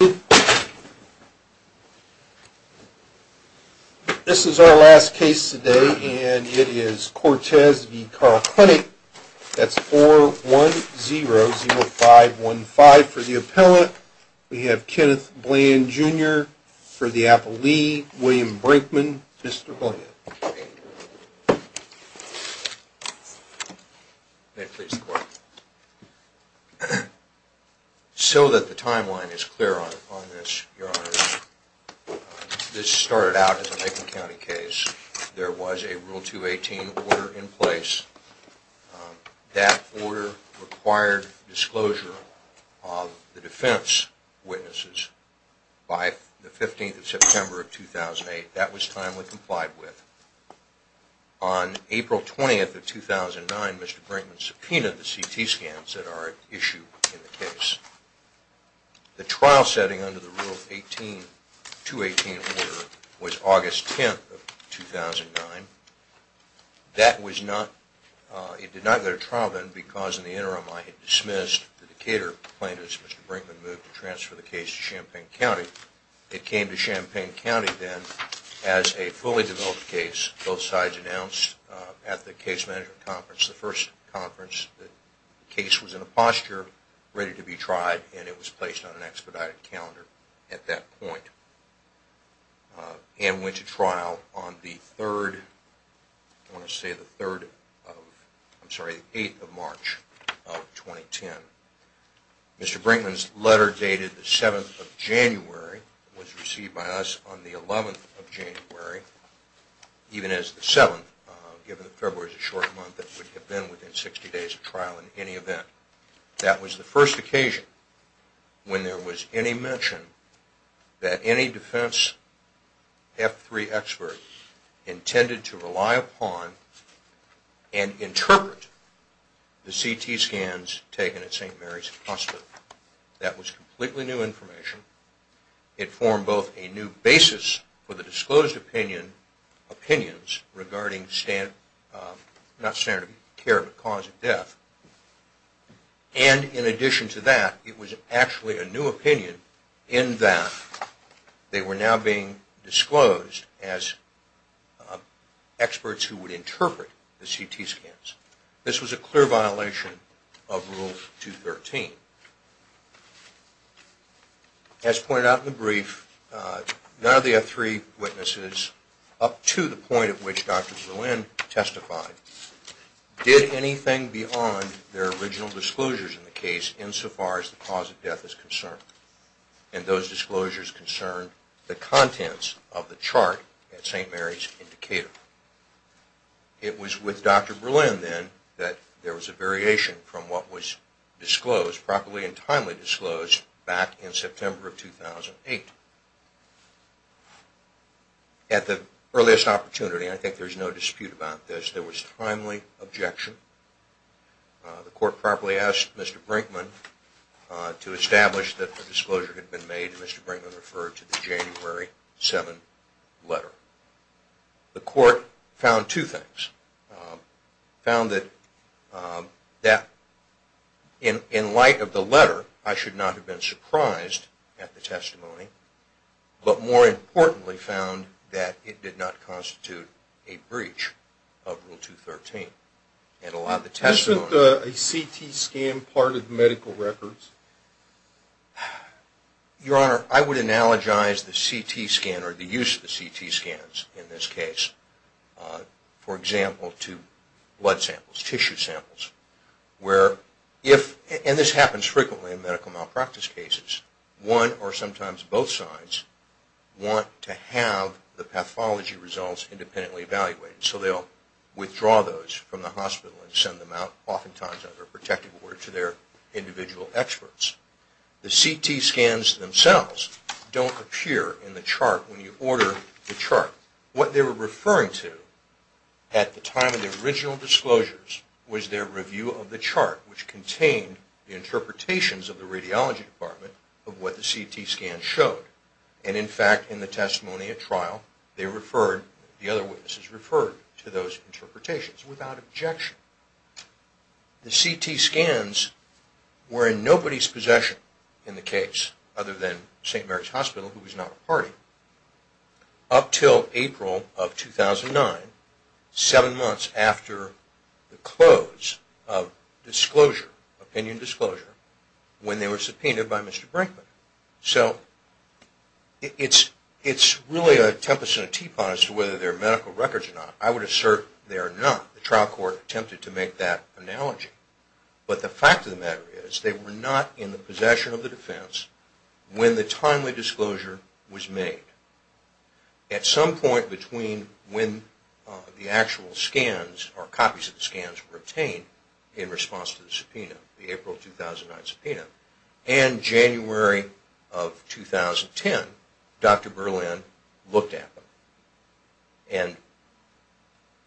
This is our last case today, and it is Cortez v. Carle Clinic. That's 410-0515 for the appellant. We have Kenneth Bland, Jr. for the appellee. William Brinkman, Mr. Bland. May it please the court. So that the timeline is clear on this, your honors, this started out as a Lincoln County case. There was a Rule 218 order in place. That order required disclosure of the defense witnesses by the 15th of September of 2008. That was timely complied with. On April 20th of 2009, Mr. Brinkman subpoenaed the CT scans that are at issue in the case. The trial setting under the Rule 218 order was August 10th of 2009. It did not go to trial then because in the interim I had dismissed the Decatur plaintiffs. Mr. Brinkman moved to transfer the case to Champaign County. It came to Champaign County then as a fully developed case. Both sides announced at the case management conference, the first conference, that the case was in a posture ready to be tried and it was placed on an expedited calendar at that point. It went to trial on the 8th of March of 2010. Mr. Brinkman's letter dated the 7th of January was received by us on the 11th of January. Even as the 7th, given that February is a short month, it would have been within 60 days of trial in any event. That was the first occasion when there was any mention that any defense F3 expert intended to rely upon and interpret the CT scans taken at St. Mary's Hospital. That was completely new information. It formed both a new basis for the disclosed opinions regarding cause of death and in addition to that it was actually a new opinion in that they were now being disclosed as experts who would interpret the CT scans. This was a clear violation of Rule 213. As pointed out in the brief, none of the F3 witnesses, up to the point at which Dr. Berlin testified, did anything beyond their original disclosures in the case insofar as the cause of death is concerned. And those disclosures concerned the contents of the chart at St. Mary's in Decatur. It was with Dr. Berlin then that there was a variation from what was disclosed, properly and timely disclosed, back in September of 2008. At the earliest opportunity, and I think there is no dispute about this, there was timely objection. The court properly asked Mr. Brinkman to establish that the disclosure had been made and Mr. Brinkman referred to the January 7 letter. The court found two things. It found that in light of the letter, I should not have been surprised at the testimony, but more importantly found that it did not constitute a breach of Rule 213. Isn't a CT scan part of medical records? Your Honor, I would analogize the CT scan or the use of the CT scans in this case, for example, to blood samples, tissue samples, where if, and this happens frequently in medical malpractice cases, one or sometimes both sides want to have the pathology results independently evaluated. So they'll withdraw those from the hospital and send them out, oftentimes under a protective order, to their individual experts. The CT scans themselves don't appear in the chart when you order the chart. What they were referring to at the time of the original disclosures was their review of the chart, which contained the interpretations of the radiology department of what the CT scans showed. And in fact, in the testimony at trial, the other witnesses referred to those interpretations without objection. The CT scans were in nobody's possession in the case, other than St. Mary's Hospital, who was not a party, up until April of 2009, seven months after the close of opinion disclosure, when they were subpoenaed by Mr. Brinkman. So it's really a tempest in a teapot as to whether they're medical records or not. I would assert they're not. The trial court attempted to make that analogy. But the fact of the matter is, they were not in the possession of the defense when the timely disclosure was made. At some point between when the actual scans or copies of the scans were obtained in response to the subpoena, the April 2009 subpoena, and January of 2010, Dr. Berlin looked at them. And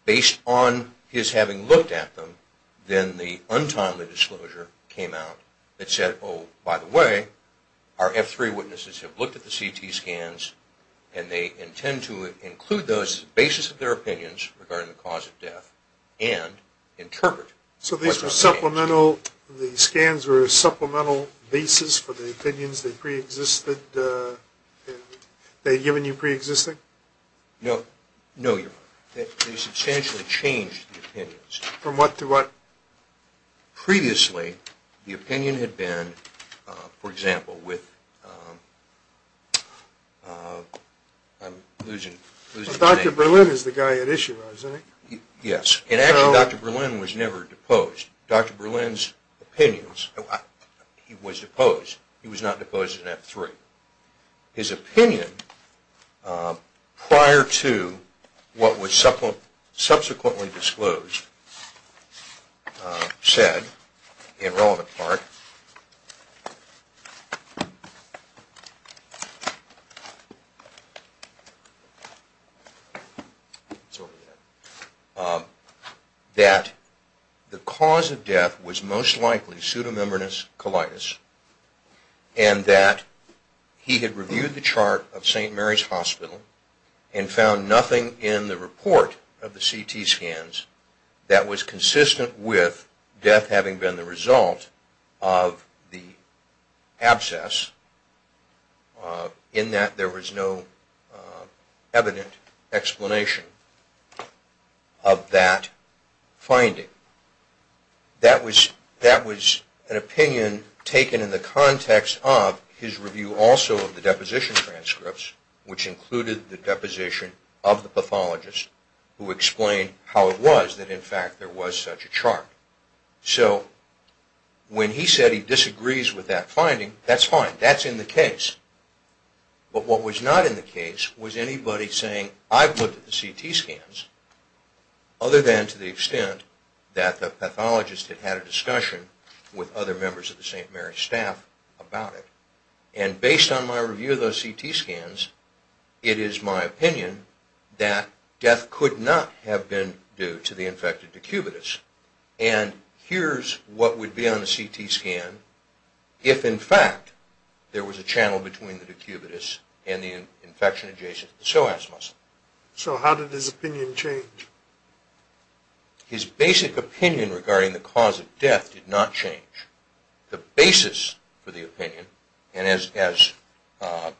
based on his having looked at them, then the untimely disclosure came out that said, oh, by the way, our F3 witnesses have looked at the CT scans, and they intend to include those as the basis of their opinions regarding the cause of death and interpret what's on the scans. So the scans were a supplemental basis for the opinions they'd given you pre-existing? No, they substantially changed the opinions. From what to what? Previously, the opinion had been, for example, with... Dr. Berlin is the guy at issue, isn't he? Yes. And actually, Dr. Berlin was never deposed. Dr. Berlin's opinions, he was deposed. He was not deposed in F3. However, his opinion prior to what was subsequently disclosed said, in relevant part, that the cause of death was most likely pseudomembranous colitis, and that he had reviewed the chart of St. Mary's Hospital and found nothing in the report of the CT scans that was consistent with death having been the result of the abscess, in that there was no evident explanation of that finding. That was an opinion taken in the context of his review also of the deposition transcripts, which included the deposition of the pathologist, who explained how it was that in fact there was such a chart. So, when he said he disagrees with that finding, that's fine. That's in the case. But what was not in the case was anybody saying, I've looked at the CT scans, other than to the extent that the pathologist had had a discussion with other members of the St. Mary's staff about it. And based on my review of those CT scans, it is my opinion that death could not have been due to the infected decubitus. And here's what would be on the CT scan if in fact there was a channel between the decubitus and the infection adjacent to the psoas muscle. So, how did his opinion change? His basic opinion regarding the cause of death did not change. The basis for the opinion, and as the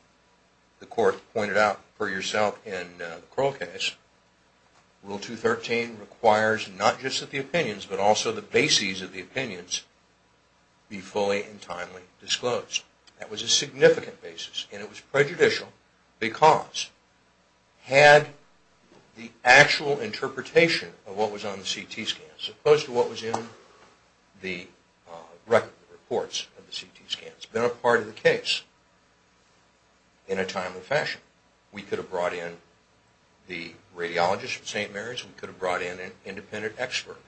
Court pointed out for yourself in the Kroll case, Rule 213 requires not just that the opinions, but also the bases of the opinions, be fully and timely disclosed. That was a significant basis, and it was prejudicial because had the actual interpretation of what was on the CT scans, as opposed to what was in the records of the CT scans, been a part of the case in a timely fashion, we could have brought in the radiologist from St. Mary's, we could have brought in an independent expert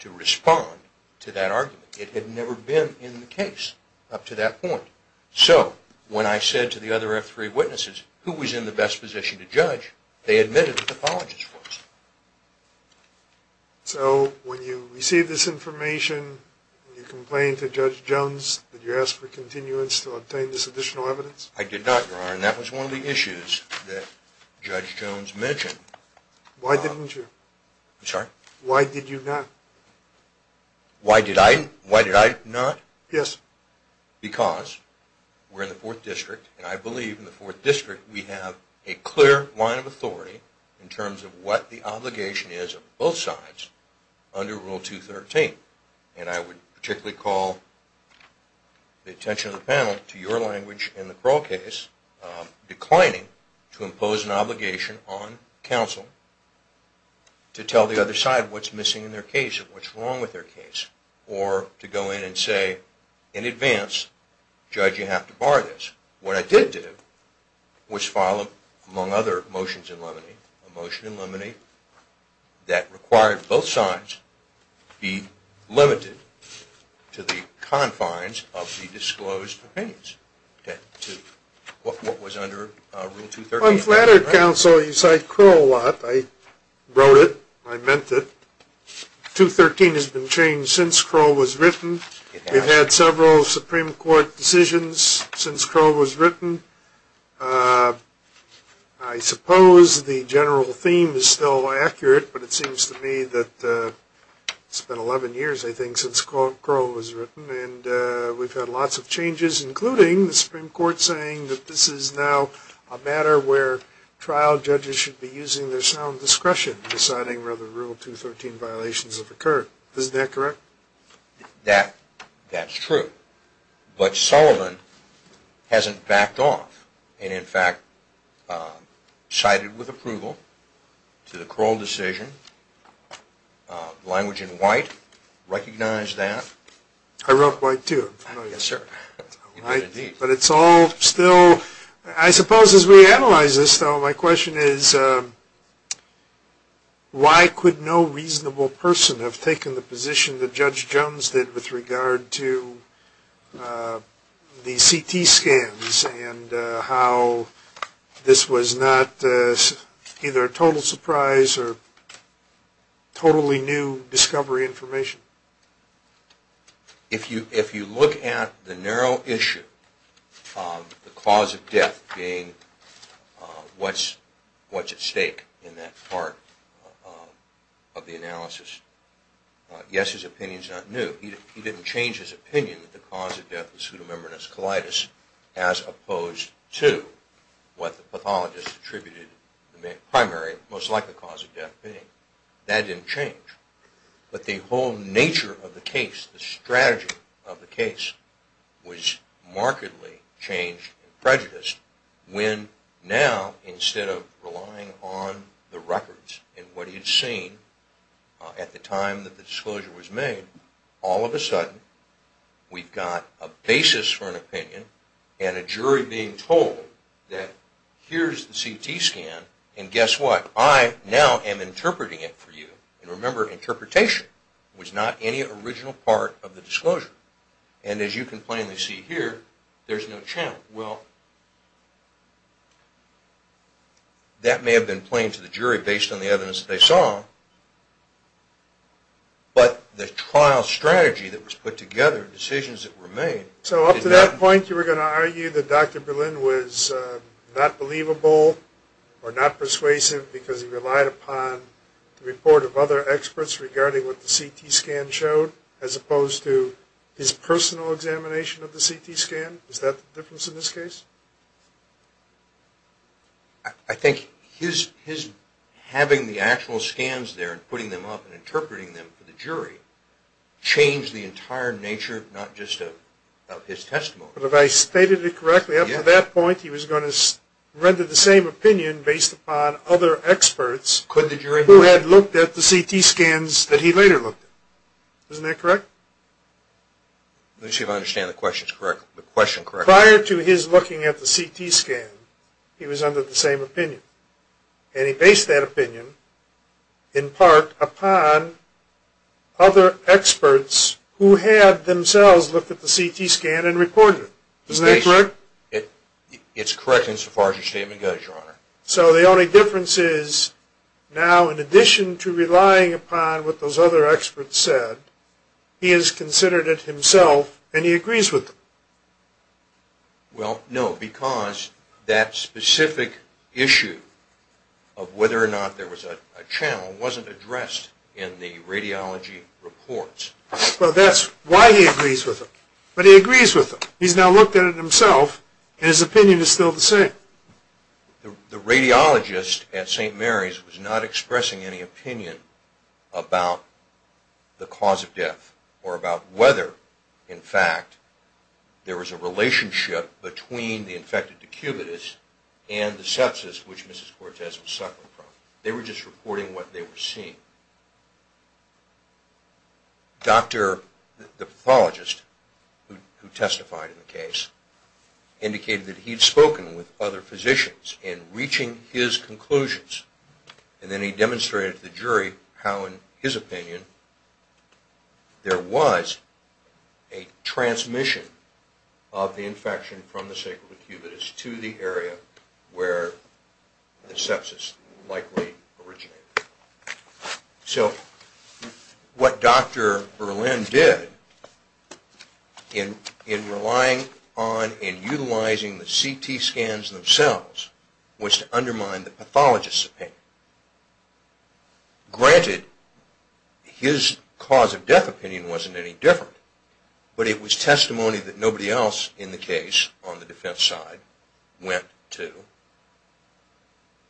to respond to that argument. It had never been in the case up to that point. So, when I said to the other F3 witnesses who was in the best position to judge, they admitted that the pathologist was. So, when you received this information, you complained to Judge Jones that you asked for continuance to obtain this additional evidence? I did not, Your Honor, and that was one of the issues that Judge Jones mentioned. Why didn't you? I'm sorry? Why did you not? Why did I not? Yes. Because we're in the 4th District, and I believe in the 4th District we have a clear line of authority in terms of what the obligation is of both sides under Rule 213. And I would particularly call the attention of the panel to your language in the Kroll case, declining to impose an obligation on counsel to tell the other side what's missing in their case, what's wrong with their case, or to go in and say in advance, Judge, you have to bar this. What I did do was file, among other motions in limine, a motion in limine that required both sides be limited to the confines of the disclosed opinions. What was under Rule 213? I'm flattered, Counsel. You cite Kroll a lot. I wrote it. I meant it. 213 has been changed since Kroll was written. We've had several Supreme Court decisions since Kroll was written. I suppose the general theme is still accurate, but it seems to me that it's been 11 years, I think, since Kroll was written. And we've had lots of changes, including the Supreme Court saying that this is now a matter where trial judges should be using their sound discretion in deciding whether Rule 213 violations have occurred. Isn't that correct? That's true. But Sullivan hasn't backed off and, in fact, cited with approval to the Kroll decision. Language in White recognized that. I wrote White, too. Yes, sir. But it's all still – I suppose as we analyze this, though, my question is why could no reasonable person have taken the position that Judge Jones did with regard to the CT scans and how this was not either a total surprise or totally new discovery information? If you look at the narrow issue of the cause of death being what's at stake in that part of the analysis, yes, his opinion's not new. He didn't change his opinion that the cause of death was pseudomembranous colitis as opposed to what the pathologist attributed the primary, most likely cause of death, being. That didn't change. But the whole nature of the case, the strategy of the case, was markedly changed and prejudiced when now, instead of relying on the records and what he had seen at the time that the disclosure was made, all of a sudden we've got a basis for an opinion and a jury being told that here's the CT scan and guess what? I now am interpreting it for you. And remember, interpretation was not any original part of the disclosure. And as you can plainly see here, there's no channel. Well, that may have been plain to the jury based on the evidence that they saw, but the trial strategy that was put together, the decisions that were made – So up to that point you were going to argue that Dr. Berlin was not believable or not persuasive because he relied upon the report of other experts regarding what the CT scan showed as opposed to his personal examination of the CT scan? Is that the difference in this case? I think his having the actual scans there and putting them up and interpreting them for the jury changed the entire nature not just of his testimony. But if I stated it correctly, up to that point he was going to render the same opinion based upon other experts who had looked at the CT scans that he later looked at. Isn't that correct? Let me see if I understand the question correctly. Prior to his looking at the CT scan, he was under the same opinion. And he based that opinion, in part, upon other experts who had themselves looked at the CT scan and reported it. Isn't that correct? It's correct insofar as your statement goes, Your Honor. So the only difference is, now in addition to relying upon what those other experts said, he has considered it himself and he agrees with them. Well, no, because that specific issue of whether or not there was a channel wasn't addressed in the radiology reports. Well, that's why he agrees with them. But he agrees with them. He's now looked at it himself and his opinion is still the same. The radiologist at St. Mary's was not expressing any opinion about the cause of death or about whether, in fact, there was a relationship between the infected decubitus and the sepsis which Mrs. Cortez was suffering from. They were just reporting what they were seeing. The pathologist who testified in the case indicated that he had spoken with other physicians in reaching his conclusions. And then he demonstrated to the jury how, in his opinion, there was a transmission of the infection from the sacral decubitus to the area where the sepsis likely originated. So what Dr. Berlin did in relying on and utilizing the CT scans themselves was to undermine the pathologist's opinion. Granted, his cause of death opinion wasn't any different, but it was testimony that nobody else in the case, on the defense side, went to.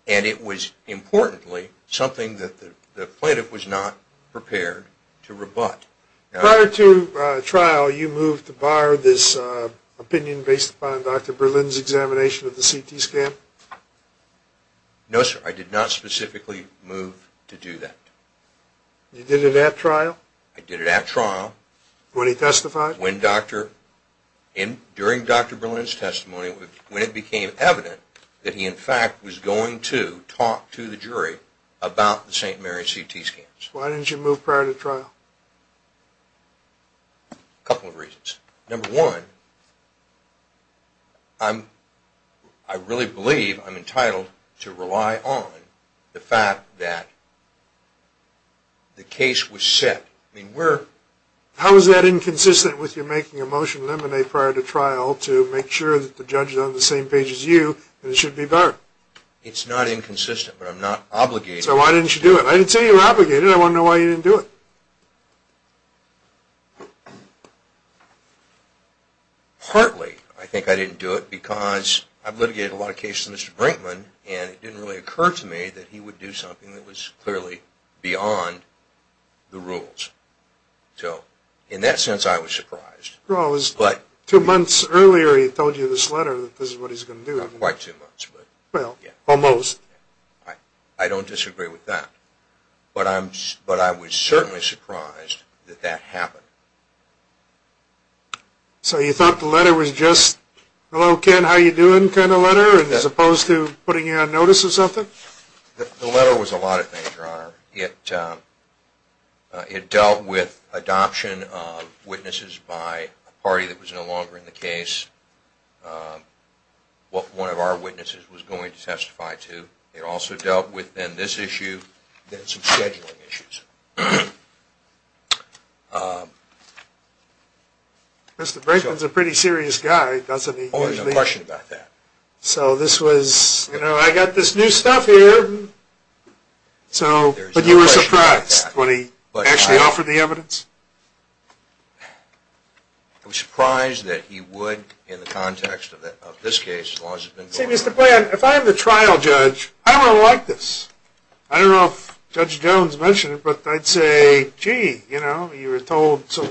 And it was, importantly, something that the plaintiff was not prepared to rebut. Prior to trial, you moved to bar this opinion based upon Dr. Berlin's examination of the CT scan? No, sir. I did not specifically move to do that. You did it at trial? I did it at trial. When he testified? During Dr. Berlin's testimony, when it became evident that he, in fact, was going to talk to the jury about the St. Mary CT scans. Why didn't you move prior to trial? A couple of reasons. Number one, I really believe I'm entitled to rely on the fact that the case was set. How is that inconsistent with you making a motion to eliminate prior to trial to make sure that the judge is on the same page as you and it should be better? It's not inconsistent, but I'm not obligated. So why didn't you do it? I didn't say you were obligated. I want to know why you didn't do it. Partly, I think I didn't do it because I've litigated a lot of cases with Mr. Brinkman and it didn't really occur to me that he would do something that was clearly beyond the rules. So, in that sense, I was surprised. Well, it was two months earlier he told you this letter that this is what he's going to do. Not quite two months. Well, almost. I don't disagree with that. But I was certainly surprised that that happened. So you thought the letter was just, hello, Ken, how you doing kind of letter as opposed to putting you on notice of something? The letter was a lot of things, Your Honor. It dealt with adoption of witnesses by a party that was no longer in the case. One of our witnesses was going to testify too. It also dealt with, then, this issue, then some scheduling issues. Mr. Brinkman's a pretty serious guy, doesn't he? Oh, there's no question about that. So this was, you know, I got this new stuff here. So, but you were surprised when he actually offered the evidence? I was surprised that he would in the context of this case as long as it's been going. See, Mr. Bland, if I'm the trial judge, I don't really like this. I don't know if Judge Jones mentioned it, but I'd say, gee, you know, you were told some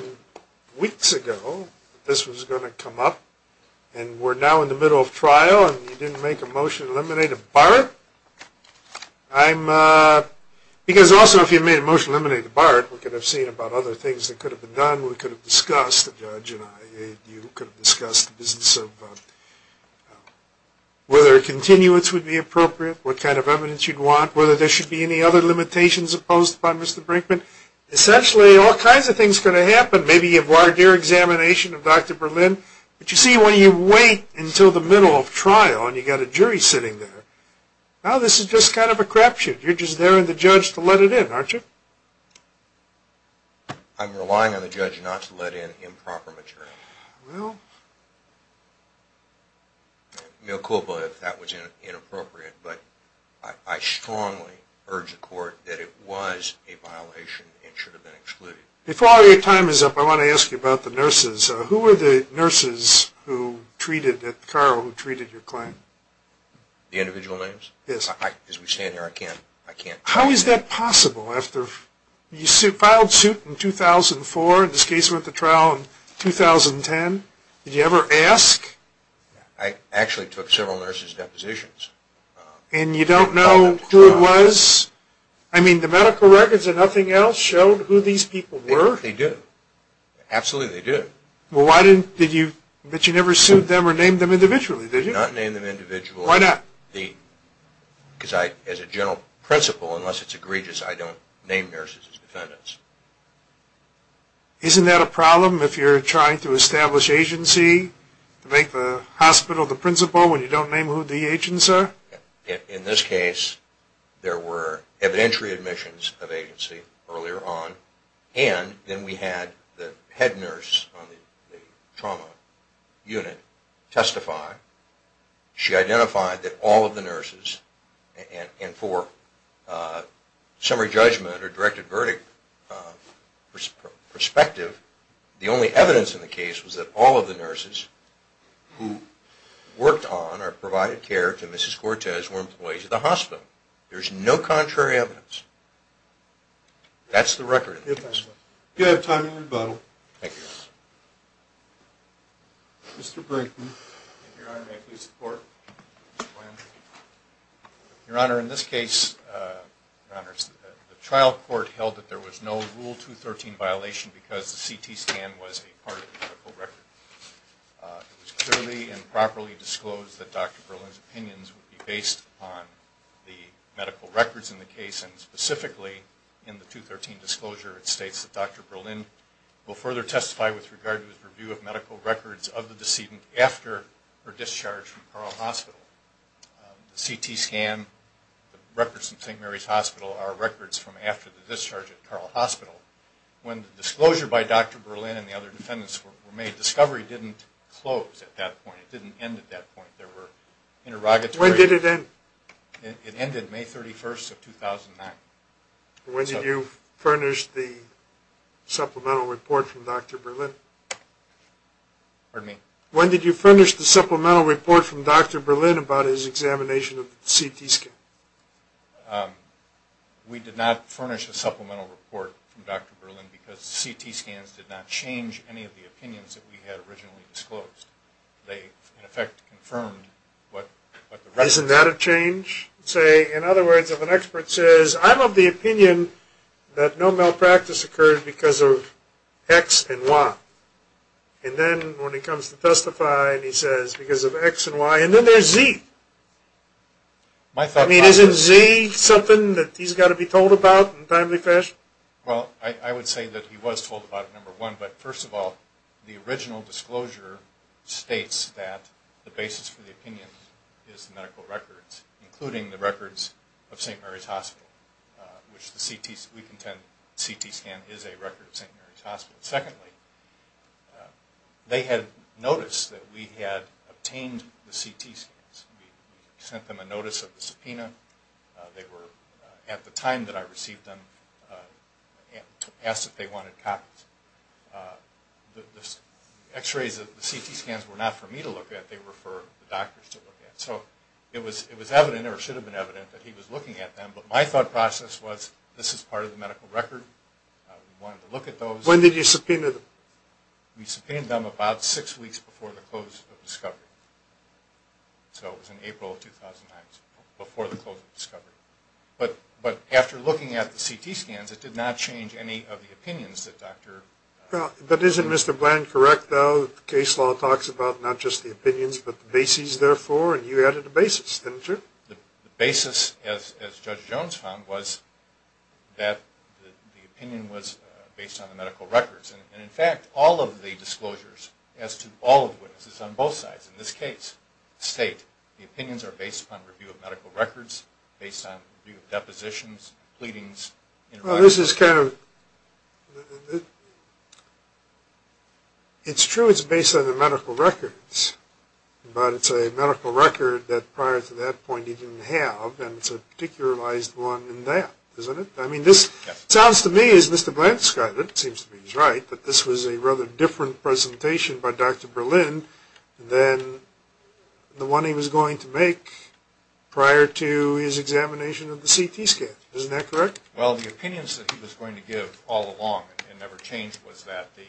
weeks ago that this was going to come up. And we're now in the middle of trial and you didn't make a motion to eliminate a BART? I'm, because also if you made a motion to eliminate a BART, we could have seen about other things that could have been done. We could have discussed, the judge and I, you could have discussed the business of whether a continuance would be appropriate, what kind of evidence you'd want, whether there should be any other limitations imposed upon Mr. Brinkman. Essentially, all kinds of things could have happened. Maybe you've wired your examination of Dr. Berlin. But you see, when you wait until the middle of trial and you've got a jury sitting there, now this is just kind of a crap shoot. You're just there on the judge to let it in, aren't you? I'm relying on the judge not to let in improper material. Well. Mill Culpa, if that was inappropriate. But I strongly urge the court that it was a violation and should have been excluded. Before your time is up, I want to ask you about the nurses. Who were the nurses who treated, Carl, who treated your client? The individual names? Yes. As we stand here, I can't. I can't. How is that possible? You filed suit in 2004. This case went to trial in 2010. Did you ever ask? I actually took several nurses' depositions. And you don't know who it was? I mean, the medical records and nothing else showed who these people were? They do. Absolutely, they do. But you never sued them or named them individually, did you? I did not name them individually. Why not? Because as a general principle, unless it's egregious, I don't name nurses as defendants. Isn't that a problem if you're trying to establish agency to make the hospital the principal when you don't name who the agents are? In this case, there were evidentiary admissions of agency earlier on, and then we had the head nurse on the trauma unit testify. She identified that all of the nurses, and for summary judgment or directed verdict perspective, the only evidence in the case was that all of the nurses who worked on or provided care to Mrs. Cortez were employees of the hospital. There's no contrary evidence. That's the record. Thank you. You have time to rebuttal. Thank you. Mr. Brinkman. Your Honor, may I please report? Go ahead. Your Honor, in this case, the trial court held that there was no Rule 213 violation because the CT scan was a part of the medical record. It was clearly and properly disclosed that Dr. Berlin's opinions would be based on the medical records in the case, and specifically in the 213 disclosure it states that Dr. Berlin will further testify with regard to his review of medical records of the decedent after her discharge from Carle Hospital. The CT scan, the records from St. Mary's Hospital are records from after the discharge at Carle Hospital. When the disclosure by Dr. Berlin and the other defendants were made, discovery didn't close at that point. It didn't end at that point. When did it end? It ended May 31st of 2009. When did you furnish the supplemental report from Dr. Berlin? Pardon me? When did you furnish the supplemental report from Dr. Berlin about his examination of the CT scan? We did not furnish a supplemental report from Dr. Berlin because the CT scans did not change any of the opinions that we had originally disclosed. They, in effect, confirmed what the records were. Isn't that a change? In other words, if an expert says, I'm of the opinion that no malpractice occurred because of X and Y, and then when he comes to testify and he says because of X and Y, and then there's Z. I mean, isn't Z something that he's got to be told about in a timely fashion? Well, I would say that he was told about it, number one, but first of all, the original disclosure states that the basis for the opinion is the medical records, including the records of St. Mary's Hospital, which we contend the CT scan is a record of St. Mary's Hospital. Secondly, they had noticed that we had obtained the CT scans. We sent them a notice of the subpoena. They were, at the time that I received them, asked if they wanted copies. The X-rays of the CT scans were not for me to look at. They were for the doctors to look at. So it was evident or should have been evident that he was looking at them, but my thought process was this is part of the medical record. We wanted to look at those. When did you subpoena them? We subpoenaed them about six weeks before the close of discovery. So it was in April of 2009, before the close of discovery. But after looking at the CT scans, it did not change any of the opinions that Dr. But isn't Mr. Bland correct, though, that the case law talks about not just the opinions but the basis, therefore, and you added a basis, didn't you? The basis, as Judge Jones found, was that the opinion was based on the medical records. And, in fact, all of the disclosures as to all of the witnesses on both sides, in this case, state the opinions are based upon review of medical records, based on review of depositions, pleadings. Well, this is kind of – it's true it's based on the medical records, but it's a medical record that prior to that point he didn't have, and it's a particularized one in that, isn't it? I mean, this sounds to me, as Mr. Bland described it, it seems to me he's right, that this was a rather different presentation by Dr. Berlin than the one he was going to make prior to his examination of the CT scan. Isn't that correct? Well, the opinions that he was going to give all along and never changed was that the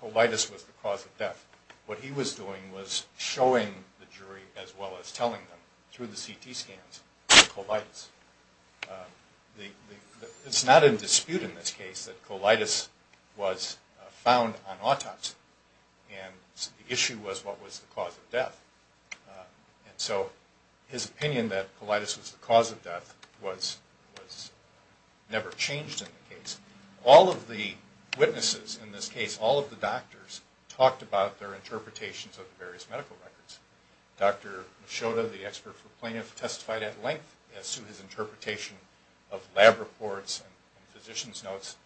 colitis was the cause of death. What he was doing was showing the jury, as well as telling them, through the CT scans, the colitis. It's not in dispute in this case that colitis was found on autopsy, and the issue was what was the cause of death. And so his opinion that colitis was the cause of death was never changed in the case. All of the witnesses in this case, all of the doctors, talked about their interpretations of the various medical records. Dr. Mishoda, the expert for plaintiff, testified at length as to his interpretation of lab reports and physician's notes.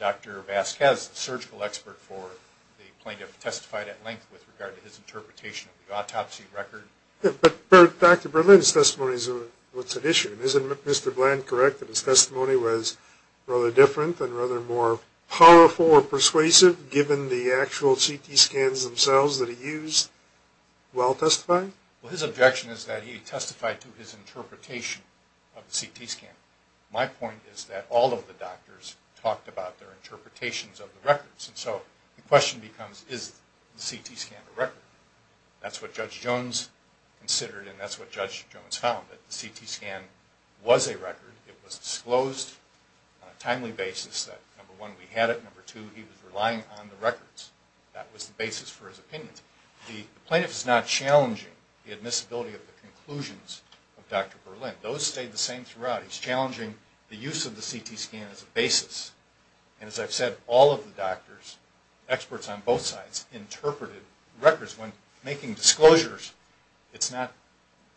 Dr. Vasquez, the surgical expert for the plaintiff, testified at length with regard to his interpretation of the autopsy record. But Dr. Berlin's testimony is what's at issue. Isn't Mr. Bland correct that his testimony was rather different and rather more powerful or persuasive, given the actual CT scans themselves that he used, while testifying? Well, his objection is that he testified to his interpretation of the CT scan. My point is that all of the doctors talked about their interpretations of the records. And so the question becomes, is the CT scan a record? That's what Judge Jones considered, and that's what Judge Jones found, that the CT scan was a record. It was disclosed on a timely basis that, number one, we had it. Number two, he was relying on the records. That was the basis for his opinion. The plaintiff is not challenging the admissibility of the conclusions of Dr. Berlin. Those stayed the same throughout. He's challenging the use of the CT scan as a basis. And as I've said, all of the doctors, experts on both sides, interpreted records when making disclosures. It's not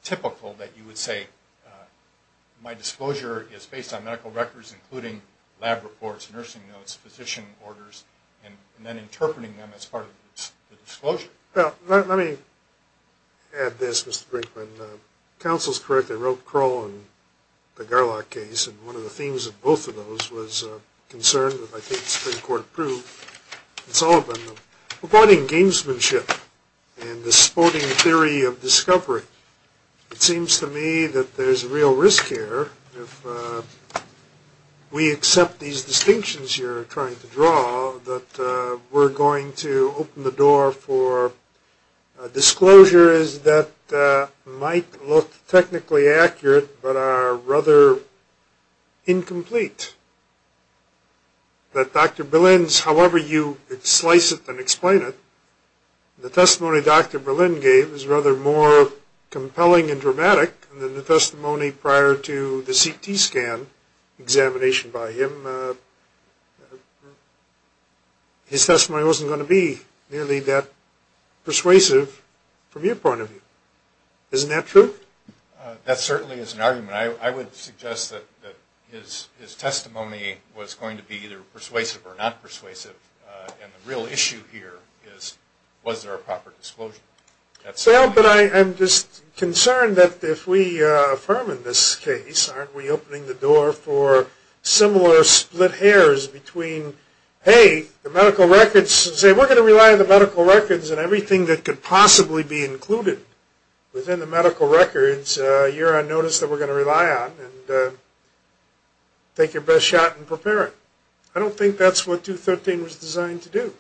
typical that you would say my disclosure is based on medical records, including lab reports, nursing notes, physician orders, and then interpreting them as part of the disclosure. Well, let me add this, Mr. Brinkman. Counsel's correct. I wrote Kroll and the Garlock case, and one of the themes of both of those was a concern that I think has been court-approved. It's all been the avoiding gamesmanship and the sporting theory of discovery. It seems to me that there's a real risk here. If we accept these distinctions you're trying to draw, that we're going to open the door for disclosures that might look technically accurate but are rather incomplete, that Dr. Berlin's however you slice it and explain it, the testimony Dr. Berlin gave is rather more compelling and dramatic than the testimony prior to the CT scan examination by him. His testimony wasn't going to be nearly that persuasive from your point of view. Isn't that true? That certainly is an argument. I would suggest that his testimony was going to be either persuasive or not persuasive, and the real issue here is was there a proper disclosure. But I'm just concerned that if we affirm in this case, aren't we opening the door for similar split hairs between, hey, the medical records, say we're going to rely on the medical records and everything that could possibly be included within the medical records, you're on notice that we're going to rely on and take your best shot and prepare it. I don't think that's what 213 was designed to do.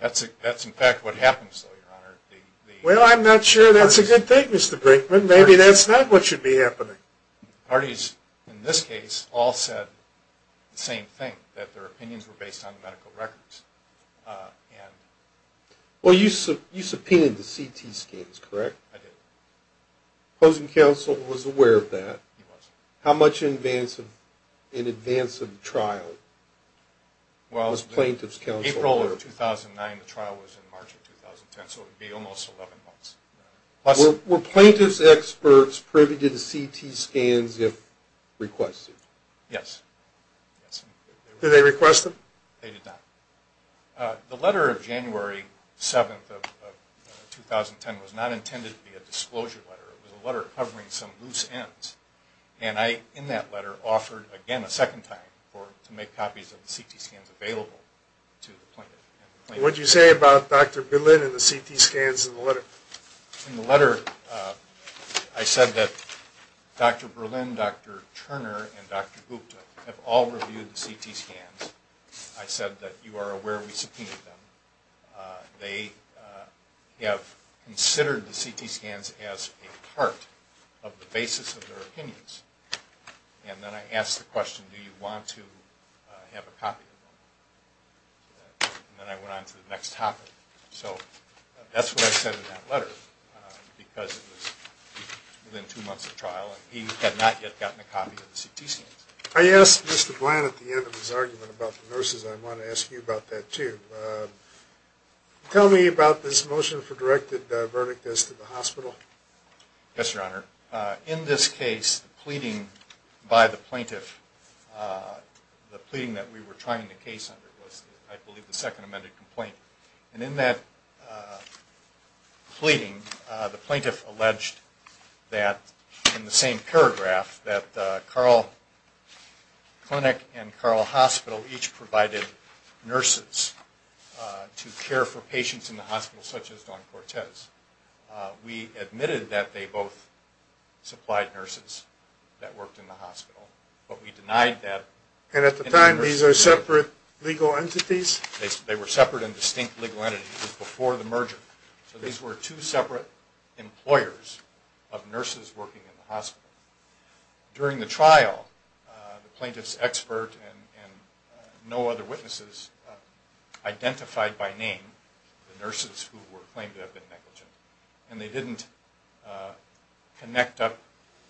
That's in fact what happens though, Your Honor. Well, I'm not sure that's a good thing, Mr. Brinkman. Maybe that's not what should be happening. The parties in this case all said the same thing, that their opinions were based on the medical records. Well, you subpoenaed the CT scans, correct? I did. The opposing counsel was aware of that. He was. How much in advance of the trial was plaintiff's counsel aware of? Well, in April of 2009, the trial was in March of 2010, so it would be almost 11 months. Were plaintiff's experts privy to the CT scans if requested? Yes. Did they request them? They did not. The letter of January 7th of 2010 was not intended to be a disclosure letter. It was a letter covering some loose ends, and I in that letter offered again a second time to make copies of the CT scans available to the plaintiff. What did you say about Dr. Berlin and the CT scans in the letter? In the letter I said that Dr. Berlin, Dr. Turner, and Dr. Gupta have all reviewed the CT scans. I said that you are aware we subpoenaed them. They have considered the CT scans as a part of the basis of their opinions. And then I asked the question, do you want to have a copy of them? And then I went on to the next topic. So that's what I said in that letter because it was within two months of trial, and he had not yet gotten a copy of the CT scans. I asked Mr. Bland at the end of his argument about the nurses. I want to ask you about that too. Tell me about this motion for directed verdict as to the hospital. Yes, Your Honor. In this case, the pleading by the plaintiff, the pleading that we were trying the case under was, I believe, the second amended complaint. And in that pleading, the plaintiff alleged that in the same paragraph that Carl Clinic and Carl Hospital each provided nurses to care for patients in the hospital such as Dawn Cortez. We admitted that they both supplied nurses that worked in the hospital. But we denied that. And at the time, these are separate legal entities? They were separate and distinct legal entities before the merger. So these were two separate employers of nurses working in the hospital. During the trial, the plaintiff's expert and no other witnesses identified by name the nurses who were claimed to have been negligent. And they didn't connect up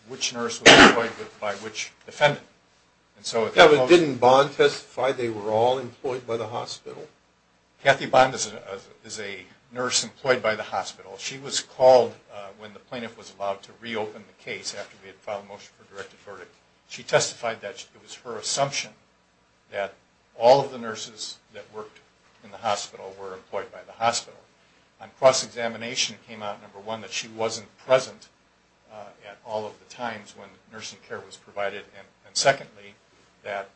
which nurse was employed by which defendant. Didn't Bond testify they were all employed by the hospital? Kathy Bond is a nurse employed by the hospital. She was called when the plaintiff was allowed to reopen the case after we had filed a motion for directed verdict. She testified that it was her assumption that all of the nurses that worked in the hospital were employed by the hospital. On cross-examination, it came out, number one, that she wasn't present at all of the times when nursing care was provided. And secondly, that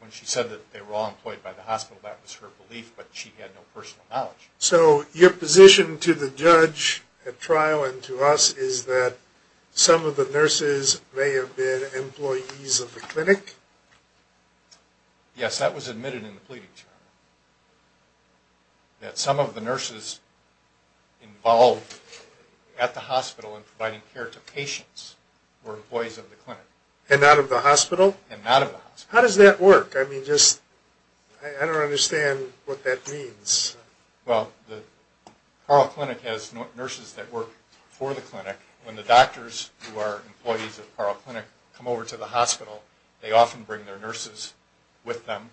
when she said that they were all employed by the hospital, that was her belief, but she had no personal knowledge. So your position to the judge at trial and to us is that some of the nurses may have been employees of the clinic? Yes, that was admitted in the pleading charge, that some of the nurses involved at the hospital in providing care to patients were employees of the clinic. And not of the hospital? And not of the hospital. How does that work? I mean, just, I don't understand what that means. Well, the Carl Clinic has nurses that work for the clinic. When the doctors who are employees of the Carl Clinic come over to the hospital, they often bring their nurses with them.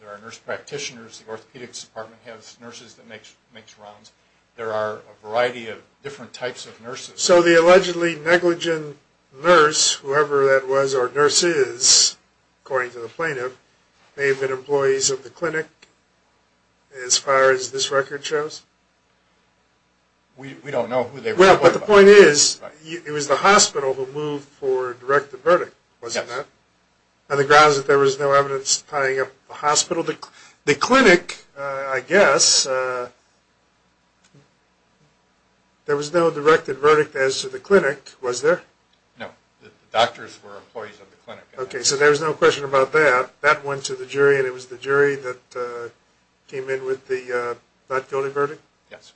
There are nurse practitioners. The orthopedics department has nurses that makes rounds. There are a variety of different types of nurses. So the allegedly negligent nurse, whoever that was or nurse is, according to the plaintiff, may have been employees of the clinic as far as this record shows? We don't know who they were. Well, but the point is, it was the hospital who moved for a directed verdict, wasn't it? Yes. On the grounds that there was no evidence tying up the hospital? The clinic, I guess, there was no directed verdict as to the clinic, was there? No. The doctors were employees of the clinic. Okay, so there was no question about that. That went to the jury, and it was the jury that came in with the not guilty verdict? Yes.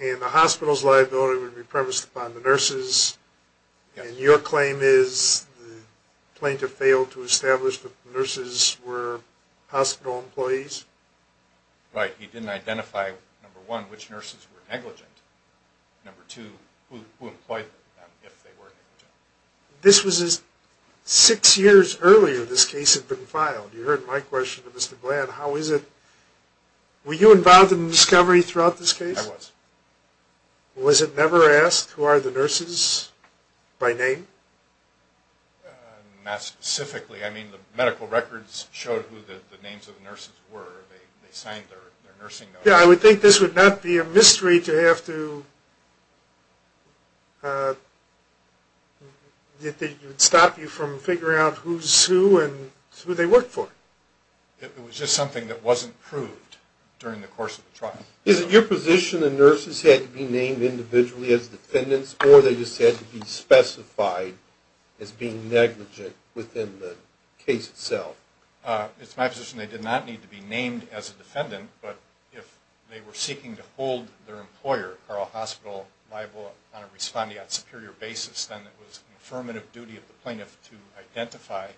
And the hospital's liability would be premised upon the nurses? Yes. And your claim is the plaintiff failed to establish that the nurses were hospital employees? He didn't identify, number one, which nurses were negligent. Number two, who employed them if they were negligent. This was six years earlier this case had been filed. You heard my question to Mr. Bland. Were you involved in the discovery throughout this case? I was. Was it never asked who are the nurses by name? Not specifically. I mean, the medical records showed who the names of the nurses were. They signed their nursing notes. Yeah, I would think this would not be a mystery to have to stop you from figuring out who's who and who they worked for. It was just something that wasn't proved during the course of the trial. Is it your position the nurses had to be named individually as defendants, or they just had to be specified as being negligent within the case itself? It's my position they did not need to be named as a defendant, but if they were seeking to hold their employer, Carl Hospital, liable on a respondeat superior basis, then it was the affirmative duty of the plaintiff to identify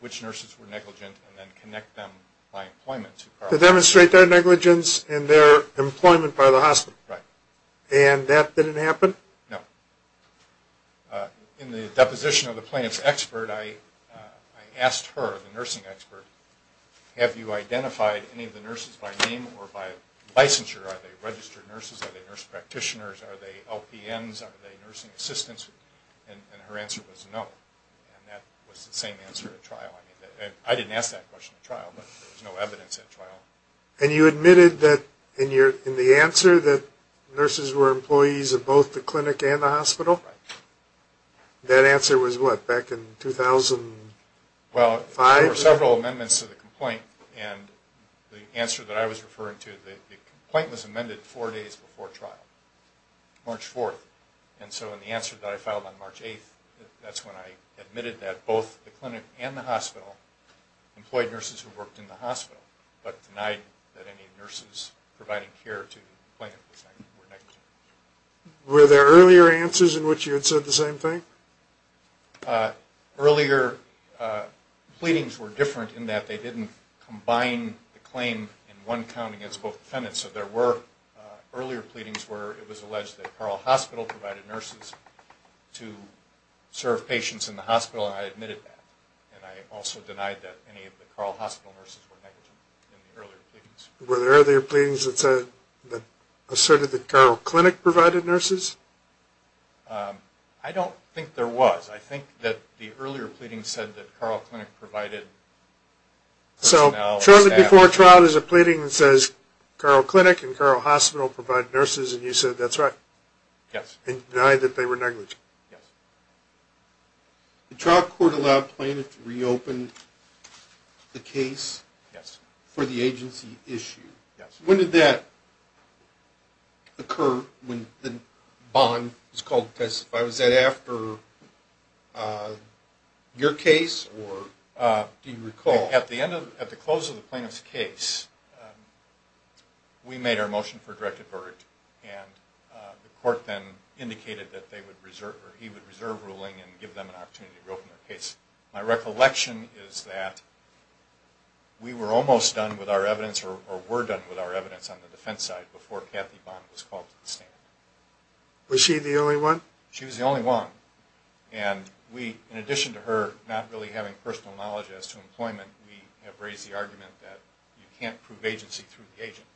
which nurses were negligent and then connect them by employment to Carl Hospital. To demonstrate their negligence and their employment by the hospital. Right. And that didn't happen? No. In the deposition of the plaintiff's expert, I asked her, the nursing expert, have you identified any of the nurses by name or by licensure? Are they registered nurses? Are they nurse practitioners? Are they LPNs? Are they nursing assistants? And her answer was no. And that was the same answer at trial. I didn't ask that question at trial, but there was no evidence at trial. And you admitted that in the answer that nurses were employees of both the clinic and the hospital? Right. That answer was what, back in 2005? Well, there were several amendments to the complaint, and the answer that I was referring to, the complaint was amended four days before trial, March 4th. And so in the answer that I filed on March 8th, that's when I admitted that both the clinic and the hospital employed nurses who worked in the hospital, but denied that any nurses providing care to the plaintiff were negligent. Were there earlier answers in which you had said the same thing? Earlier pleadings were different in that they didn't combine the claim in one county against both defendants. So there were earlier pleadings where it was alleged that Carle Hospital provided nurses to serve patients in the hospital, and I admitted that. And I also denied that any of the Carle Hospital nurses were negligent in the earlier pleadings. Were there earlier pleadings that asserted that Carle Clinic provided nurses? I don't think there was. I think that the earlier pleadings said that Carle Clinic provided personnel. So shortly before trial there's a pleading that says, Carle Clinic and Carle Hospital provide nurses, and you said that's right? Yes. And denied that they were negligent? Yes. The trial court allowed the plaintiff to reopen the case for the agency issue. When did that occur when the bond was called to testify? Was that after your case, or do you recall? At the close of the plaintiff's case, we made our motion for a directed verdict, and the court then indicated that he would reserve ruling and give them an opportunity to reopen their case. My recollection is that we were almost done with our evidence, or were done with our evidence on the defense side before Kathy Bond was called to the stand. Was she the only one? She was the only one. And we, in addition to her not really having personal knowledge as to employment, we have raised the argument that you can't prove agency through the agent,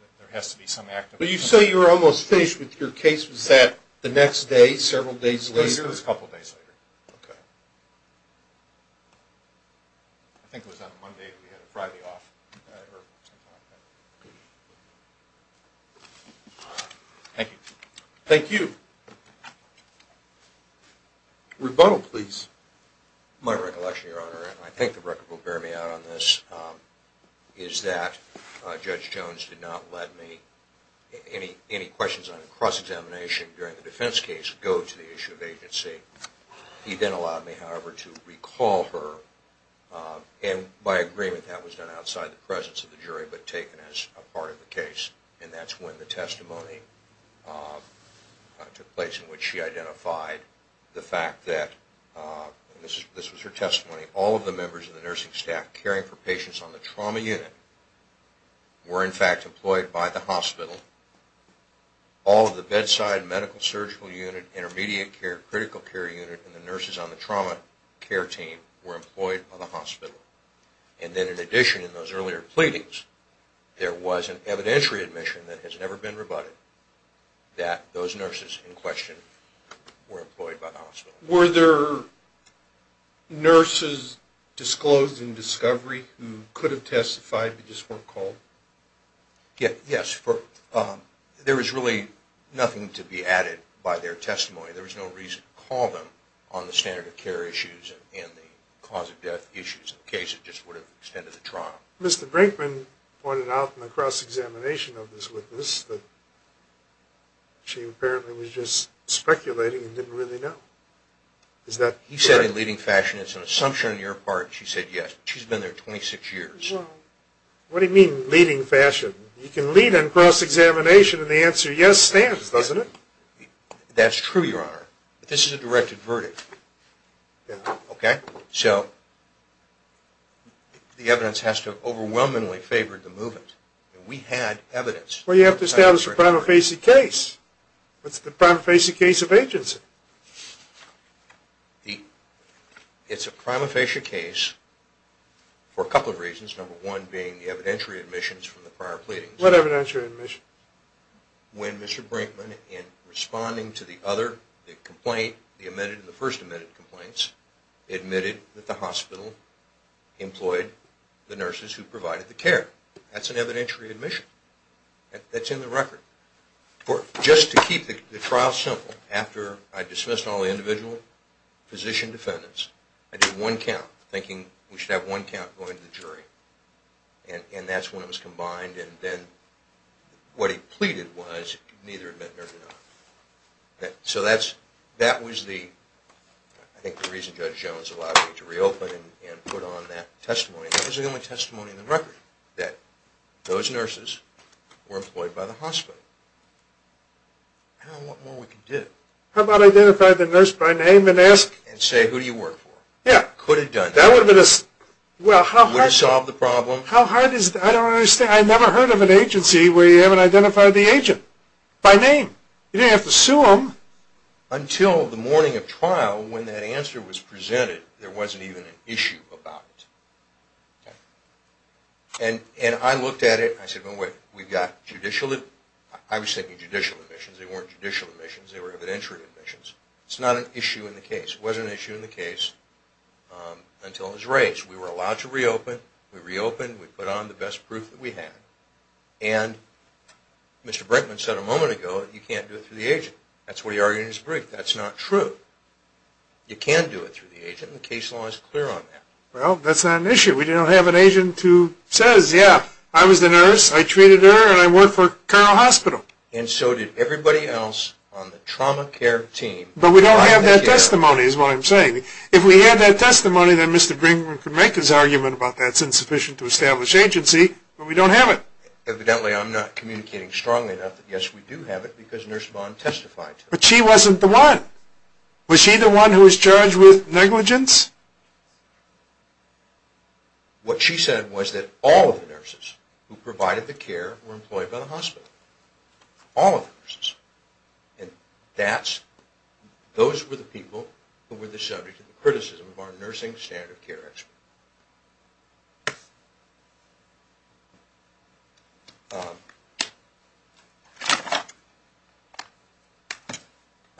that there has to be some act of employment. But you say you were almost finished with your case. Was that the next day, several days later? It was a couple days later. I think it was on Monday that we had a Friday off. Thank you. Thank you. Rebuttal, please. My recollection, Your Honor, and I think the record will bear me out on this, is that Judge Jones did not let any questions on cross-examination during the defense case go to the issue of agency. He then allowed me, however, to recall her, and by agreement that was done outside the presence of the jury but taken as a part of the case, and that's when the testimony took place in which she identified the fact that, and this was her testimony, all of the members of the nursing staff caring for patients on the trauma unit were, in fact, employed by the hospital. All of the bedside medical surgical unit, intermediate care, critical care unit, and the nurses on the trauma care team were employed by the hospital. And then in addition in those earlier pleadings, there was an evidentiary admission that has never been rebutted, that those nurses in question were employed by the hospital. Were there nurses disclosed in discovery who could have testified but just weren't called? Yes. There was really nothing to be added by their testimony. There was no reason to call them on the standard of care issues and the cause of death issues in the case. It just would have extended the trial. Mr. Brinkman pointed out in the cross-examination of this witness that she apparently was just speculating and didn't really know. He said in leading fashion, it's an assumption on your part, she said yes. She's been there 26 years. Well, what do you mean leading fashion? You can lead on cross-examination and the answer yes stands, doesn't it? That's true, Your Honor, but this is a directed verdict. So the evidence has to overwhelmingly favor the movement. We had evidence. Well, you have to establish a prima facie case. What's the prima facie case of agency? It's a prima facie case for a couple of reasons, number one being the evidentiary admissions from the prior pleadings. What evidentiary admissions? When Mr. Brinkman, in responding to the other complaint, the first admitted complaints, admitted that the hospital employed the nurses who provided the care. That's an evidentiary admission. That's in the record. Just to keep the trial simple, after I dismissed all the individual physician defendants, and that's when it was combined, and then what he pleaded was neither admit nor deny. So that was the reason Judge Jones allowed me to reopen and put on that testimony. That was the only testimony in the record, that those nurses were employed by the hospital. I don't know what more we can do. How about identify the nurse by name and ask? And say who do you work for? Yeah. Could have done that. That would have solved the problem. How hard is that? I don't understand. I never heard of an agency where you haven't identified the agent by name. You didn't have to sue them. Until the morning of trial when that answer was presented, there wasn't even an issue about it. And I looked at it and I said, well, wait, we've got judicial admissions. I was thinking judicial admissions. They weren't judicial admissions. They were evidentiary admissions. It's not an issue in the case. Until it was raised. We were allowed to reopen. We reopened. We put on the best proof that we had. And Mr. Brinkman said a moment ago, you can't do it through the agent. That's what he argued in his brief. That's not true. You can do it through the agent, and the case law is clear on that. Well, that's not an issue. We don't have an agent who says, yeah, I was the nurse, I treated her, and I worked for Carroll Hospital. And so did everybody else on the trauma care team. But we don't have that testimony is what I'm saying. If we had that testimony, then Mr. Brinkman could make his argument about that's insufficient to establish agency, but we don't have it. Evidently, I'm not communicating strongly enough that, yes, we do have it because Nurse Bond testified to it. But she wasn't the one. Was she the one who was charged with negligence? What she said was that all of the nurses who provided the care were employed by the hospital. All of the nurses. And those were the people who were the subject of the criticism of our nursing standard of care expert.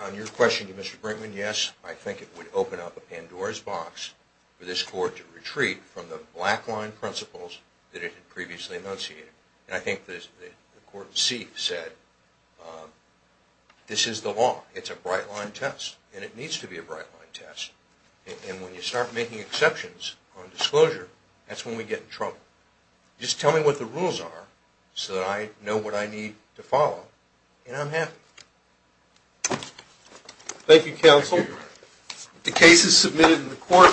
On your question to Mr. Brinkman, yes, I think it would open up a Pandora's box for this court to retreat from the black-line principles that it had previously enunciated. And I think the court see said this is the law. It's a bright-line test, and it needs to be a bright-line test. And when you start making exceptions on disclosure, that's when we get in trouble. Just tell me what the rules are so that I know what I need to follow, and I'm happy. Thank you, counsel. The case is submitted in the court.